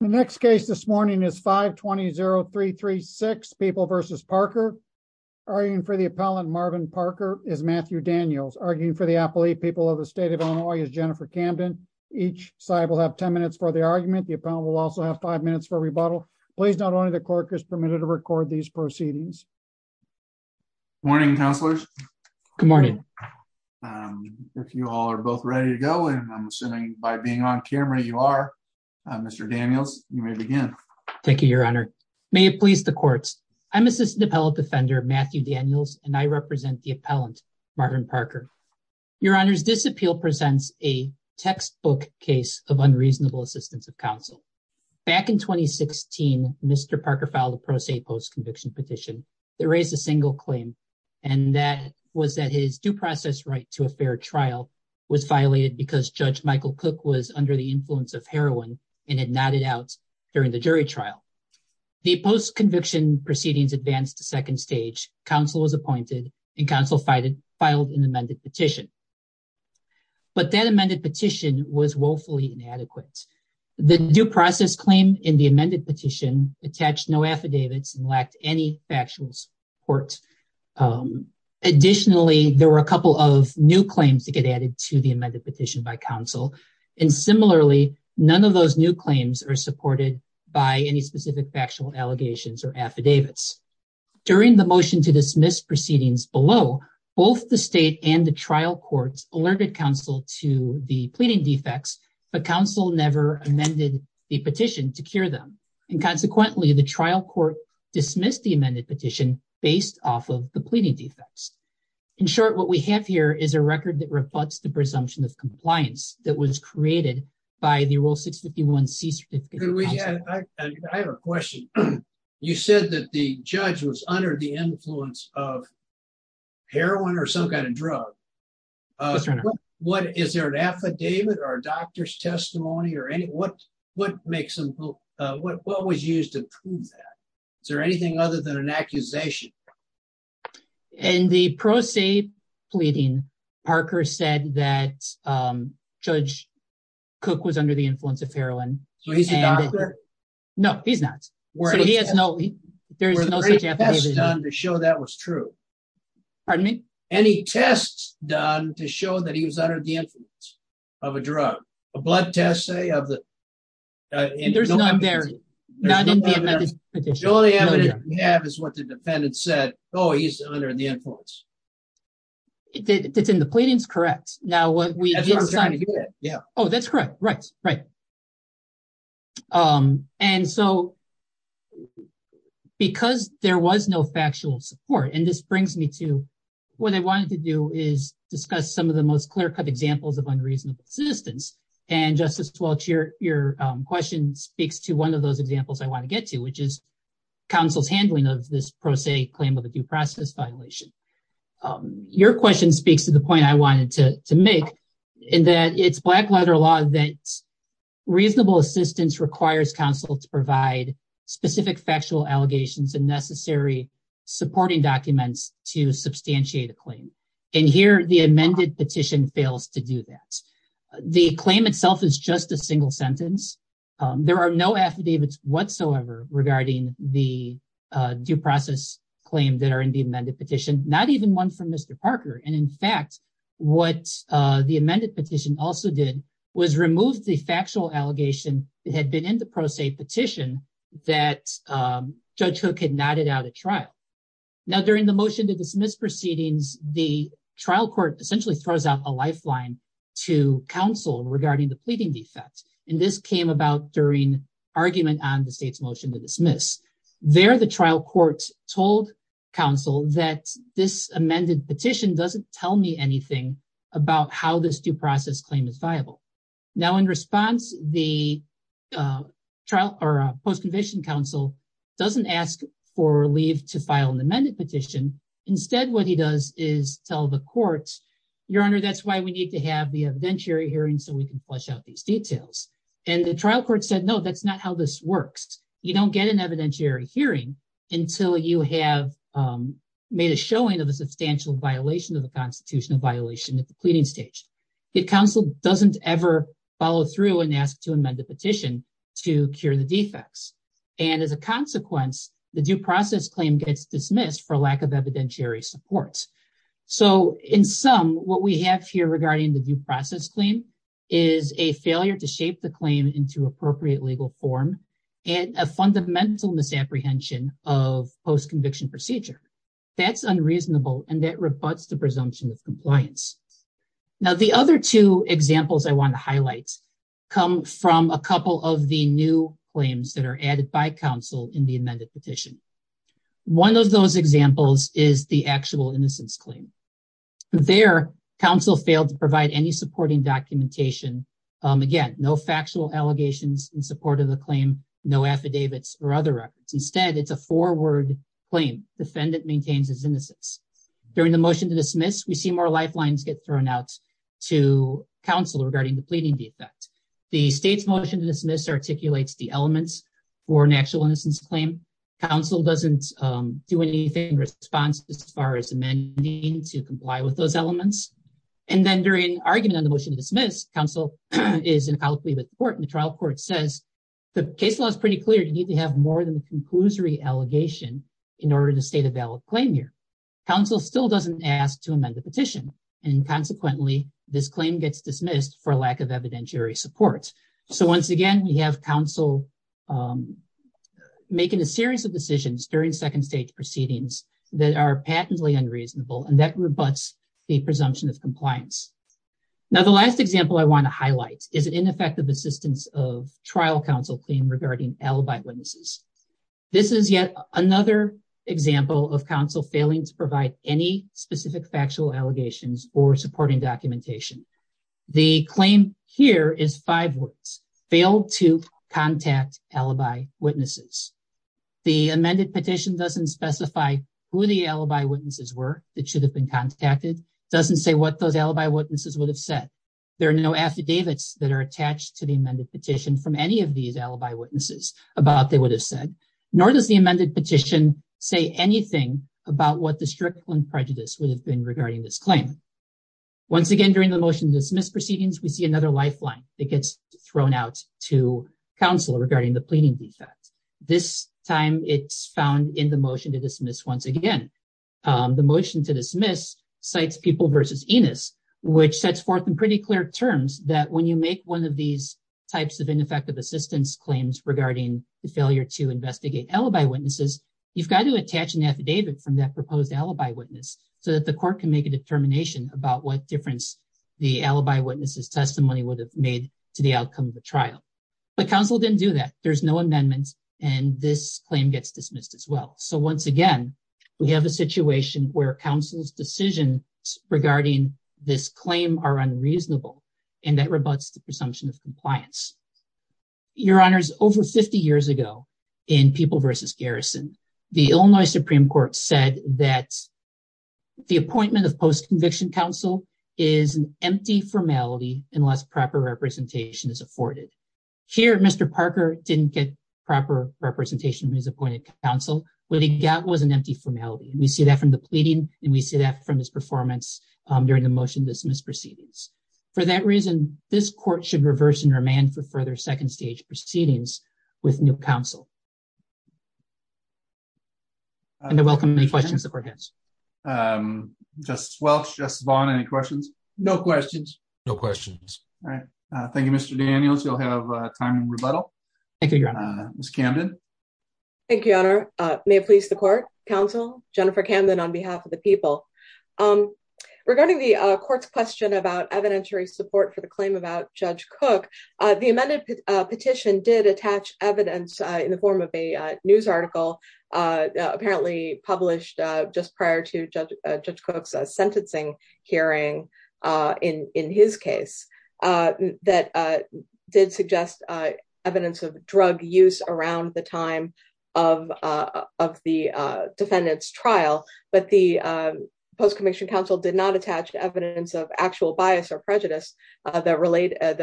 The next case this morning is 520-336 People v. Parker. Arguing for the appellant, Marvin Parker, is Matthew Daniels. Arguing for the appellate, People of the State of Illinois, is Jennifer Camden. Each side will have 10 minutes for the argument. The appellant will also have five minutes for rebuttal. Please note only the clerk is permitted to record these proceedings. Morning, counselors. Good morning. If you all are both ready to go, and I'm assuming by being on camera you are, Mr. Daniels, you may begin. Thank you, Your Honor. May it please the courts. I'm Assistant Appellate Defender Matthew Daniels, and I represent the appellant, Marvin Parker. Your Honor, this appeal presents a textbook case of unreasonable assistance of counsel. Back in 2016, Mr. Parker filed a pro se post-conviction petition that raised a single claim, and that was that his due process right to a fair trial was violated because Judge Michael Cook was under the influence of heroin and had nodded out during the jury trial. The post-conviction proceedings advanced to second stage. Counsel was appointed, and counsel filed an amended petition. But that amended petition was woefully inadequate. The due process claim in the amended petition attached no affidavits and lacked any factual support. Additionally, there were a couple of new claims to get added to the amended petition by counsel, and similarly, none of those new claims are supported by any specific factual allegations or affidavits. During the motion to dismiss proceedings below, both the state and the trial courts alerted counsel to the pleading defects, but counsel never amended the petition to cure them, and consequently, the trial court dismissed the amended petition based off of the pleading defects. In short, what we have here is a record that reflects the presumption of compliance that was created by the Rule 651C certificate. I have a question. You said that the judge was under the influence of heroin or some kind of drug. Is there an affidavit or a doctor's testimony? What was used to prove that? Is there anything other than an accusation? In the pro se pleading, Parker said that Judge Cook was under the influence of heroin. So he's a doctor? No, he's not. So there's no such affidavit. Were there any tests done to show that was true? Pardon me? Any tests done to show that he was under the influence of a drug? A blood test, say, of the... There's none there. Not in the amended petition. The only evidence we have is what the defendant said, oh, he's under the influence. It's in the pleadings? Correct. Now, what we... That's what I'm trying to get at. Yeah. Oh, that's correct. Right, right. And so because there was no factual support, and this brings me to what I wanted to do is discuss some of the most clear-cut examples of unreasonable persistence. And Justice Welch, your question speaks to one of those examples I want to get to, which is counsel's handling of this pro se claim of a due process violation. Your question speaks to the point I wanted to make in that it's black letter law that reasonable assistance requires counsel to provide specific factual allegations and necessary supporting documents to substantiate a claim. And here, the amended petition fails to do that. The claim itself is just a single sentence. There are no affidavits whatsoever regarding the due process claim that are in the amended petition, not even one from Mr. Parker. And in fact, what the amended petition also did was remove the factual allegation that had been in the pro se petition that Judge Hook had knotted out at trial. Now, during the motion to dismiss proceedings, the trial court essentially throws out a lifeline to counsel regarding the pleading defect. And this came about during argument on the state's motion to dismiss. There, the trial court told counsel that this amended petition doesn't tell me anything about how this due process claim is viable. Now, in response, the post-conviction counsel doesn't ask for leave to file an amended petition. Instead, what he does is tell the court, your honor, that's why we need to have the evidentiary hearing so we can flush out these details. And the trial court said, no, that's not how this works. You don't get an evidentiary hearing until you have made a showing of a substantial violation of the constitutional violation at the pleading stage. The counsel doesn't ever follow through and ask to amend the petition to cure the defects. And as a consequence, the due process claim gets dismissed for lack of evidentiary support. So, in sum, what we have here regarding the due process claim is a failure to shape the claim into appropriate legal form and a fundamental misapprehension of post-conviction procedure. That's unreasonable and that rebuts the presumption of compliance. Now, the other two examples I want to highlight come from a couple of the new that are added by counsel in the amended petition. One of those examples is the actual innocence claim. There, counsel failed to provide any supporting documentation. Again, no factual allegations in support of the claim, no affidavits or other records. Instead, it's a four-word claim. Defendant maintains his innocence. During the motion to dismiss, we see more lifelines get thrown out to counsel regarding the pleading defect. The state's motion to dismiss articulates the elements for an actual innocence claim. Counsel doesn't do anything in response as far as amending to comply with those elements. And then during argument on the motion to dismiss, counsel is in conflict with the court and the trial court says, the case law is pretty clear, you need to have more than a conclusory allegation in order to state a valid claim here. Counsel still doesn't ask to amend the petition. And consequently, this claim gets dismissed for evidentiary support. So once again, we have counsel making a series of decisions during second-stage proceedings that are patently unreasonable and that rebuts the presumption of compliance. Now, the last example I want to highlight is an ineffective assistance of trial counsel claim regarding alibi witnesses. This is yet another example of counsel failing to provide any specific factual allegations or supporting documentation. The claim here is five words, failed to contact alibi witnesses. The amended petition doesn't specify who the alibi witnesses were that should have been contacted, doesn't say what those alibi witnesses would have said. There are no affidavits that are attached to the amended petition from any of these alibi witnesses about what they would have said, nor does the amended petition say anything about what the prejudice would have been regarding this claim. Once again, during the motion to dismiss proceedings, we see another lifeline that gets thrown out to counsel regarding the pleading defect. This time, it's found in the motion to dismiss once again. The motion to dismiss cites people versus Enos, which sets forth in pretty clear terms that when you make one of these types of ineffective assistance claims regarding the failure to investigate alibi witnesses, you've got to so that the court can make a determination about what difference the alibi witnesses testimony would have made to the outcome of the trial. But counsel didn't do that. There's no amendment, and this claim gets dismissed as well. So once again, we have a situation where counsel's decisions regarding this claim are unreasonable, and that rebuts the presumption of compliance. Your Honors, over 50 years ago, in People v. Garrison, the Illinois Supreme Court said that the appointment of post-conviction counsel is an empty formality unless proper representation is afforded. Here, Mr. Parker didn't get proper representation from his appointed counsel. What he got was an empty formality. We see that from the pleading, and we see that from his performance during the motion to dismiss proceedings. For that reason, this court should reverse and remand for further second stage proceedings with new counsel. I welcome any questions the court has. Justice Welch, Justice Vaughn, any questions? No questions. No questions. All right. Thank you, Mr. Daniels. You'll have time in rebuttal. Thank you, Your Honor. Ms. Camden. Thank you, Your Honor. May it please the court, counsel, Jennifer Camden on behalf of the people. Regarding the court's question about evidentiary support for the claim about Judge Cook, the amended petition did attach evidence in the form of a news article apparently published just prior to Judge Cook's sentencing hearing in his case that did suggest evidence of drug use around the time of the defendant's trial, but the post-commissioned counsel did not attach evidence of actual bias or prejudice that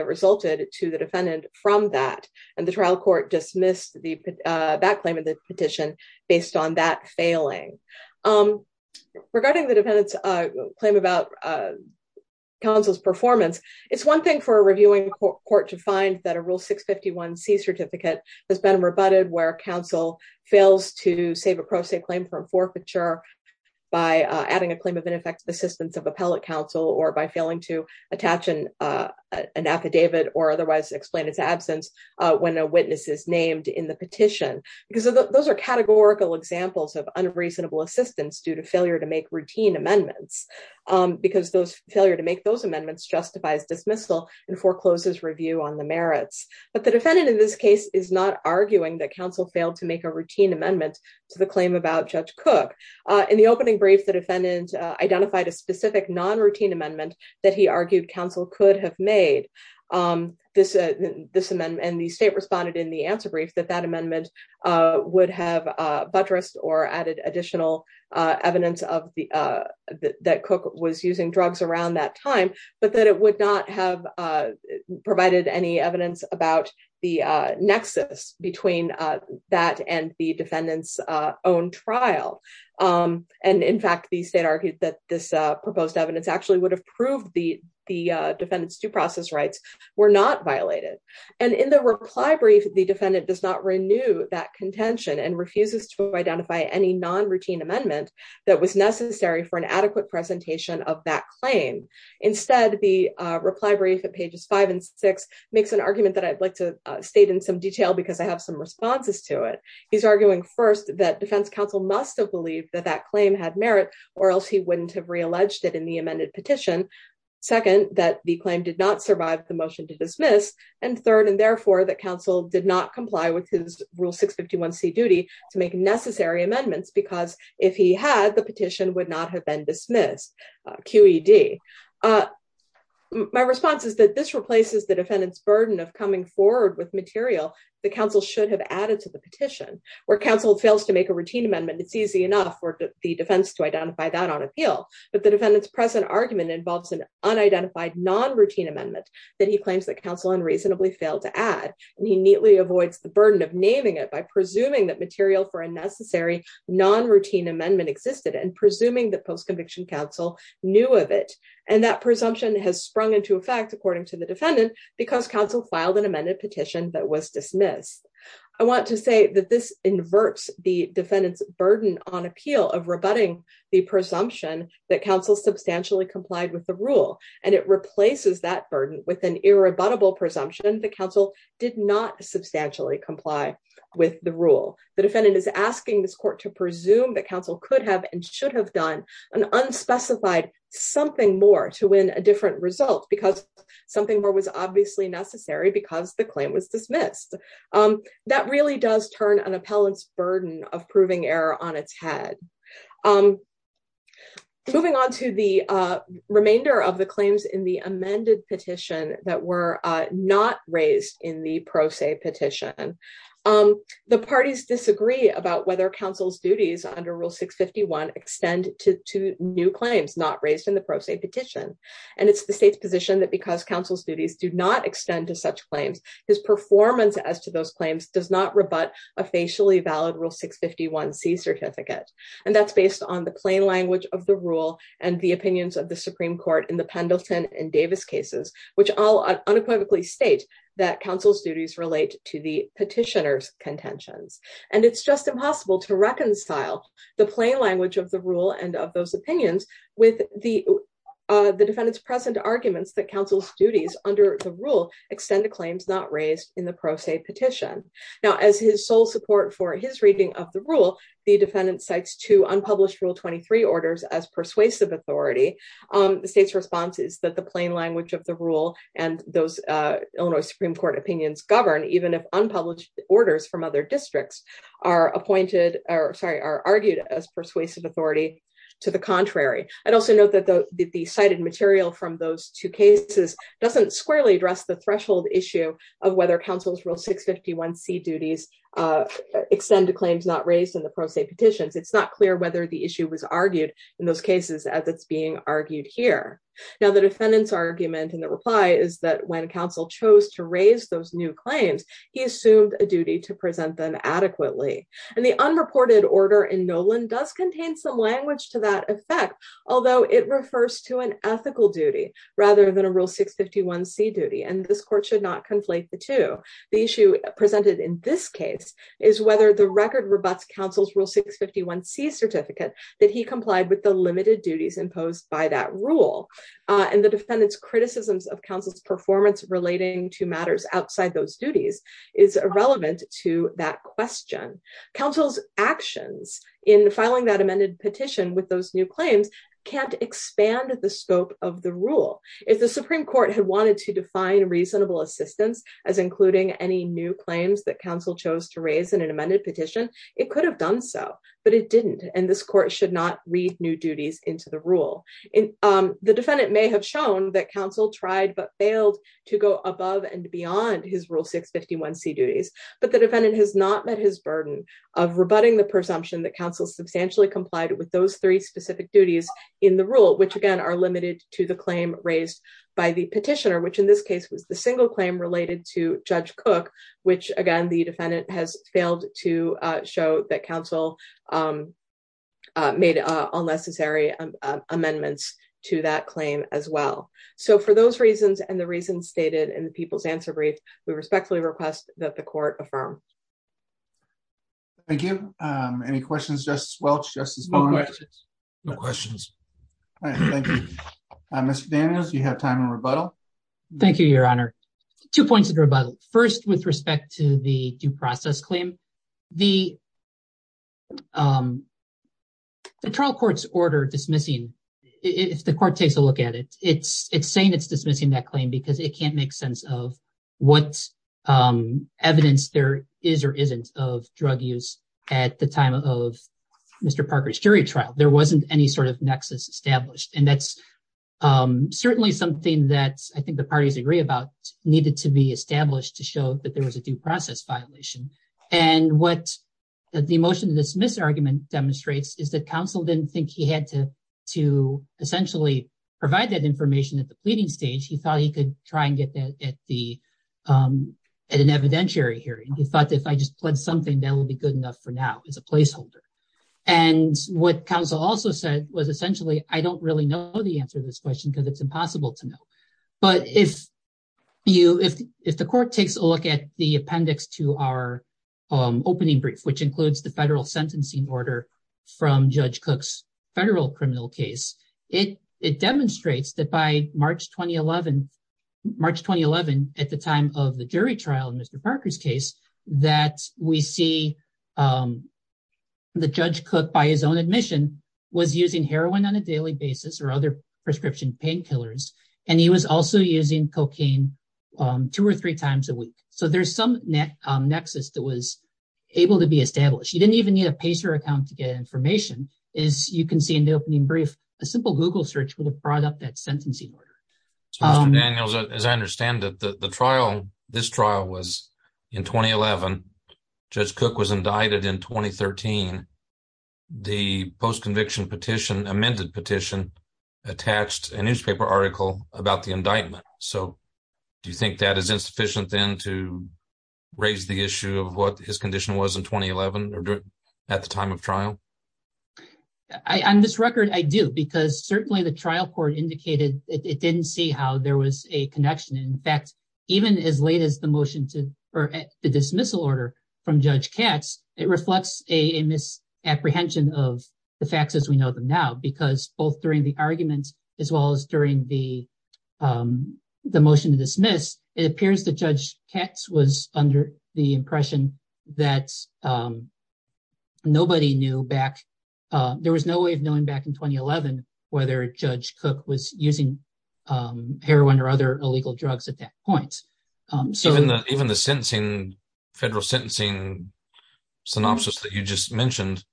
resulted to the defendant from that, and the trial court dismissed that claim in the petition based on that failing. Regarding the defendant's claim about counsel's performance, it's one thing for a reviewing court to find that a Rule 651C certificate has been rebutted where counsel fails to save a pro se claim from forfeiture by adding a claim of ineffective assistance of appellate counsel or by failing to attach an affidavit or otherwise explain its absence when a witness is named in the petition, because those are categorical examples of unreasonable assistance due to failure to make routine amendments, because those failure to make those amendments justifies dismissal and forecloses review on the merits. But the defendant in this case is not arguing that counsel failed to make a routine amendment to the claim about Judge Cook. In the opening brief, the defendant identified a specific non-routine amendment that he argued counsel could have made and the state responded in the answer brief that that amendment would have buttressed or added additional evidence that Cook was using drugs around that time, but that it would not have provided any evidence about the nexus between that and the defendant's own trial. And in fact, the state argued that this proposed evidence actually would have proved the defendant's due process rights were not violated. And in the reply brief, the defendant does not renew that contention and refuses to identify any non-routine amendment that was necessary for an adequate presentation of that claim. Instead, the reply brief at pages five and six makes an argument that I'd like to state in some detail because I have some responses to it. He's arguing first that defense counsel must have believed that that claim had merit or else he wouldn't have re-alleged it in the amended petition. Second, that the claim did not survive the motion to dismiss. And third, and therefore, that counsel did not comply with his rule 651C duty to make necessary amendments, because if he had, the petition would not have been dismissed, QED. My response is that this replaces the defendant's burden of coming forward with material that counsel should have added to the petition. Where counsel fails to make a routine amendment, it's easy enough for the defense to identify that on appeal, but the defendant's present argument involves an unidentified non-routine amendment that he claims that counsel unreasonably failed to add, and he neatly avoids the burden of naming it by presuming that material for a necessary non-routine amendment existed and presuming that post-conviction counsel knew of it. And that presumption has sprung into effect, according to the defendant, because counsel filed an amended petition that was dismissed. I want to say that this inverts the defendant's burden on appeal of rebutting the presumption that counsel substantially complied with the rule, and it replaces that burden with an irrebuttable presumption that counsel did not The defendant is asking this court to presume that counsel could have and should have done an unspecified something more to win a different result, because something more was obviously necessary because the claim was dismissed. That really does turn an appellant's burden of proving error on its head. Moving on to the remainder of the claims in the amended petition that were not raised in the pro se petition. The parties disagree about whether counsel's duties under Rule 651 extend to new claims not raised in the pro se petition, and it's the state's position that because counsel's duties do not extend to such claims, his performance as to those claims does not rebut a facially valid Rule 651C certificate, and that's based on the plain language of the rule and the opinions of the Supreme Court in the Pendleton and Davis cases, which all unequivocally state that counsel's duties relate to the petitioner's contentions, and it's just impossible to reconcile the plain language of the rule and of those opinions with the defendant's present arguments that counsel's duties under the rule extend to claims not raised in the pro se petition. Now, as his sole support for his reading of the rule, the defendant cites two unpublished Rule 23 orders as persuasive authority. The state's response is the plain language of the rule and those Illinois Supreme Court opinions govern even if unpublished orders from other districts are appointed, or sorry, are argued as persuasive authority to the contrary. I'd also note that the cited material from those two cases doesn't squarely address the threshold issue of whether counsel's Rule 651C duties extend to claims not raised in the pro se petitions. It's not clear whether the issue was argued in those cases as it's being argued here. Now, the defendant's argument in the reply is that when counsel chose to raise those new claims, he assumed a duty to present them adequately, and the unreported order in Nolan does contain some language to that effect, although it refers to an ethical duty rather than a Rule 651C duty, and this court should not conflate the two. The issue presented in this case is whether the record rebuts counsel's Rule 651C certificate that he complied with the limited duties imposed by that Rule, and the defendant's criticisms of counsel's performance relating to matters outside those duties is irrelevant to that question. Counsel's actions in filing that amended petition with those new claims can't expand the scope of the Rule. If the Supreme Court had wanted to define reasonable assistance as including any new claims that counsel chose to raise in an amended petition, it could have done so, but it didn't, and this court should not read new duties into the Rule. The defendant may have shown that counsel tried but failed to go above and beyond his Rule 651C duties, but the defendant has not met his burden of rebutting the presumption that counsel substantially complied with those three specific duties in the Rule, which again are limited to the claim raised by the petitioner, which in this case was the single claim related to Judge Cook, which again the defendant has failed to show that counsel made unnecessary amendments to that claim as well. So for those reasons and the reasons stated in the People's Answer Brief, we respectfully request that the court affirm. Thank you. Any questions, Justice Welch, Justice Barnes? No questions. All right, thank you. Mr. Daniels, you have time in rebuttal. Thank you, Your Honor. Two points of rebuttal. First, with respect to the due process claim, the trial court's order dismissing, if the court takes a look at it, it's saying it's dismissing that claim because it can't make sense of what evidence there is or isn't of drug use at the time of Mr. Parker's jury trial. There wasn't any sort of nexus established, and that's certainly something that I think the parties agree about needed to be established to show that there was a due process violation. And what the motion to dismiss argument demonstrates is that counsel didn't think he had to essentially provide that information at the pleading stage. He thought he could try and get that at an evidentiary hearing. He thought if I just pledged something, that will be good enough for now as a placeholder. And what counsel also said was essentially, I don't really know the answer to this question because it's impossible to know. But if the court takes a look at the appendix to our opening brief, which includes the federal sentencing order from Judge Cook's federal criminal case, it demonstrates that by March 2011, at the time of the jury trial in Mr. Parker's case, that we see that Judge Cook, by his own admission, was using heroin on a daily basis or other prescription painkillers. And he was also using cocaine two or three times a week. So there's some net nexus that was able to be established. You didn't even need a pacer account to get information. As you can see in the opening brief, a simple Google search would have brought up that sentencing order. Mr. Daniels, as I understand it, this trial was in 2011. Judge Cook was indicted in 2013. The post-conviction petition, amended petition, attached a newspaper article about the indictment. So do you think that is insufficient then to raise the issue of what his condition was in 2011 at the time of trial? On this record, I do, because certainly the trial court indicated it didn't see how there was a connection. In fact, even as late as the motion to, or the dismissal from Judge Katz, it reflects a misapprehension of the facts as we know them now. Because both during the argument, as well as during the motion to dismiss, it appears that Judge Katz was under the impression that nobody knew back, there was no way of knowing back in 2011, whether Judge Cook was using heroin or other illegal drugs at that point. Even the federal sentencing synopsis that you just mentioned,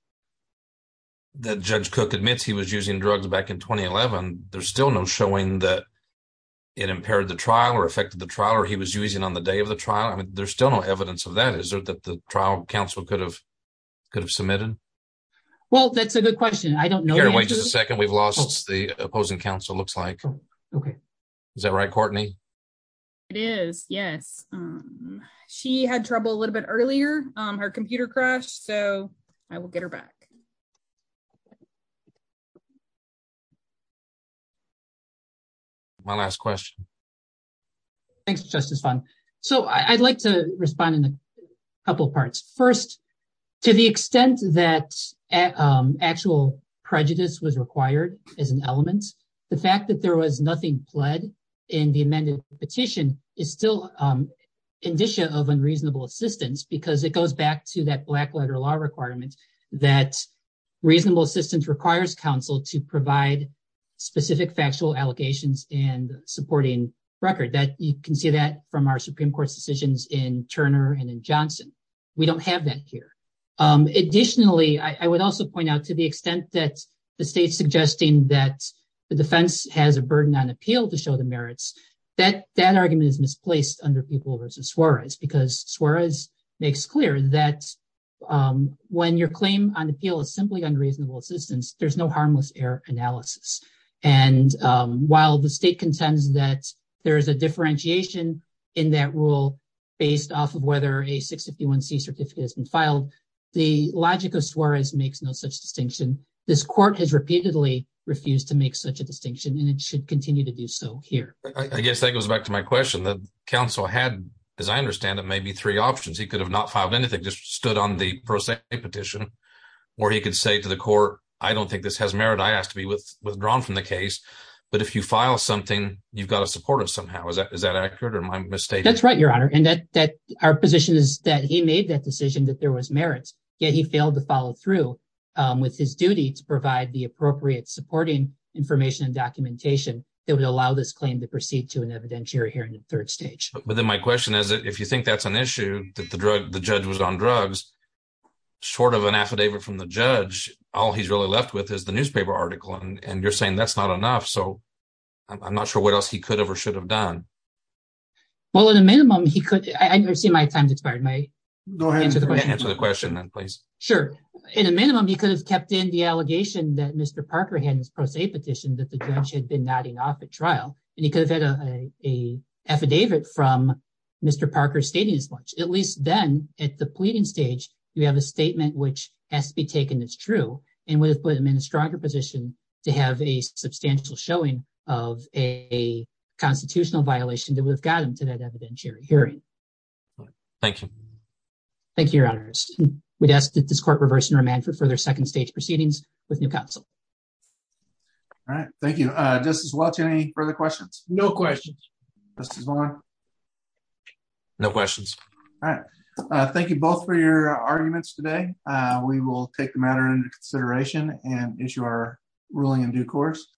that Judge Cook admits he was using drugs back in 2011, there's still no showing that it impaired the trial, or affected the trial, or he was using on the day of the trial. I mean, there's still no evidence of that. Is there, that the trial counsel could have submitted? Well, that's a good question. I don't know. Karen, wait just a second. We've lost the opposing counsel, looks like. Okay. Is that right, Courtney? It is, yes. She had trouble a little bit earlier. Her computer crashed, so I will get her back. My last question. Thanks, Justice Fung. So, I'd like to respond in a couple parts. First, to the extent that actual prejudice was required as an element, the fact that there was nothing pled in the amended petition is still indicia of unreasonable assistance, because it goes back to that black letter law requirement that reasonable assistance requires counsel to provide specific factual allegations and supporting record. You can see that from our Supreme Court's decisions in Turner and in Johnson. We don't have that here. Additionally, I would also point out to the extent that the state's suggesting that the defense has a burden on appeal to show the merits, that that argument is misplaced under People v. Suarez, because Suarez makes clear that when your claim on appeal is simply unreasonable assistance, there's no harmless error analysis. And while the state contends that there is a differentiation in that rule based off of whether a 651c certificate has been filed, the logic of Suarez makes no such distinction. This court has repeatedly refused to make such a distinction, and it should continue to do so here. I guess that goes back to my question. The counsel had, as I understand it, maybe three options. He could have not filed anything, just stood on the pro se petition, or he could say to the court, I don't think this has merit. I asked to be withdrawn from the case. But if you file something, you've got to support it somehow. Is that accurate or am I mistaken? That's right, Your Honor. And our position is that he made that decision that there was merit, yet he failed to follow through with his duty to provide the appropriate supporting information and documentation that would allow this claim to proceed to an evidentiary hearing in third stage. But then my question is, if you think that's an issue, that the judge was on drugs, short of an affidavit from the judge, all he's really left with is the newspaper article. And you're saying that's not enough. So I'm not sure what else he could have or should have done. Well, at a minimum, he could... I see my time's expired. Go ahead and answer the question then, please. Sure. In a minimum, he could have kept in the allegation that Mr. Parker had in his pro se petition that the judge had been nodding off at trial, and he could have had an affidavit from Mr. Parker stating as much. At least then, at the pleading stage, you have a statement which has to be taken as true, and would have put him in a stronger position to have a substantial showing of a constitutional violation that would have got him to that evidentiary hearing. Thank you. Thank you, Your Honor. We'd ask that this court reverse and remand for further second stage proceedings with new counsel. All right. Thank you. Justice Welch, any further questions? No questions. Justice Long? No questions. All right. Thank you both for your arguments today. We will take the matter into consideration and issue our ruling in due course.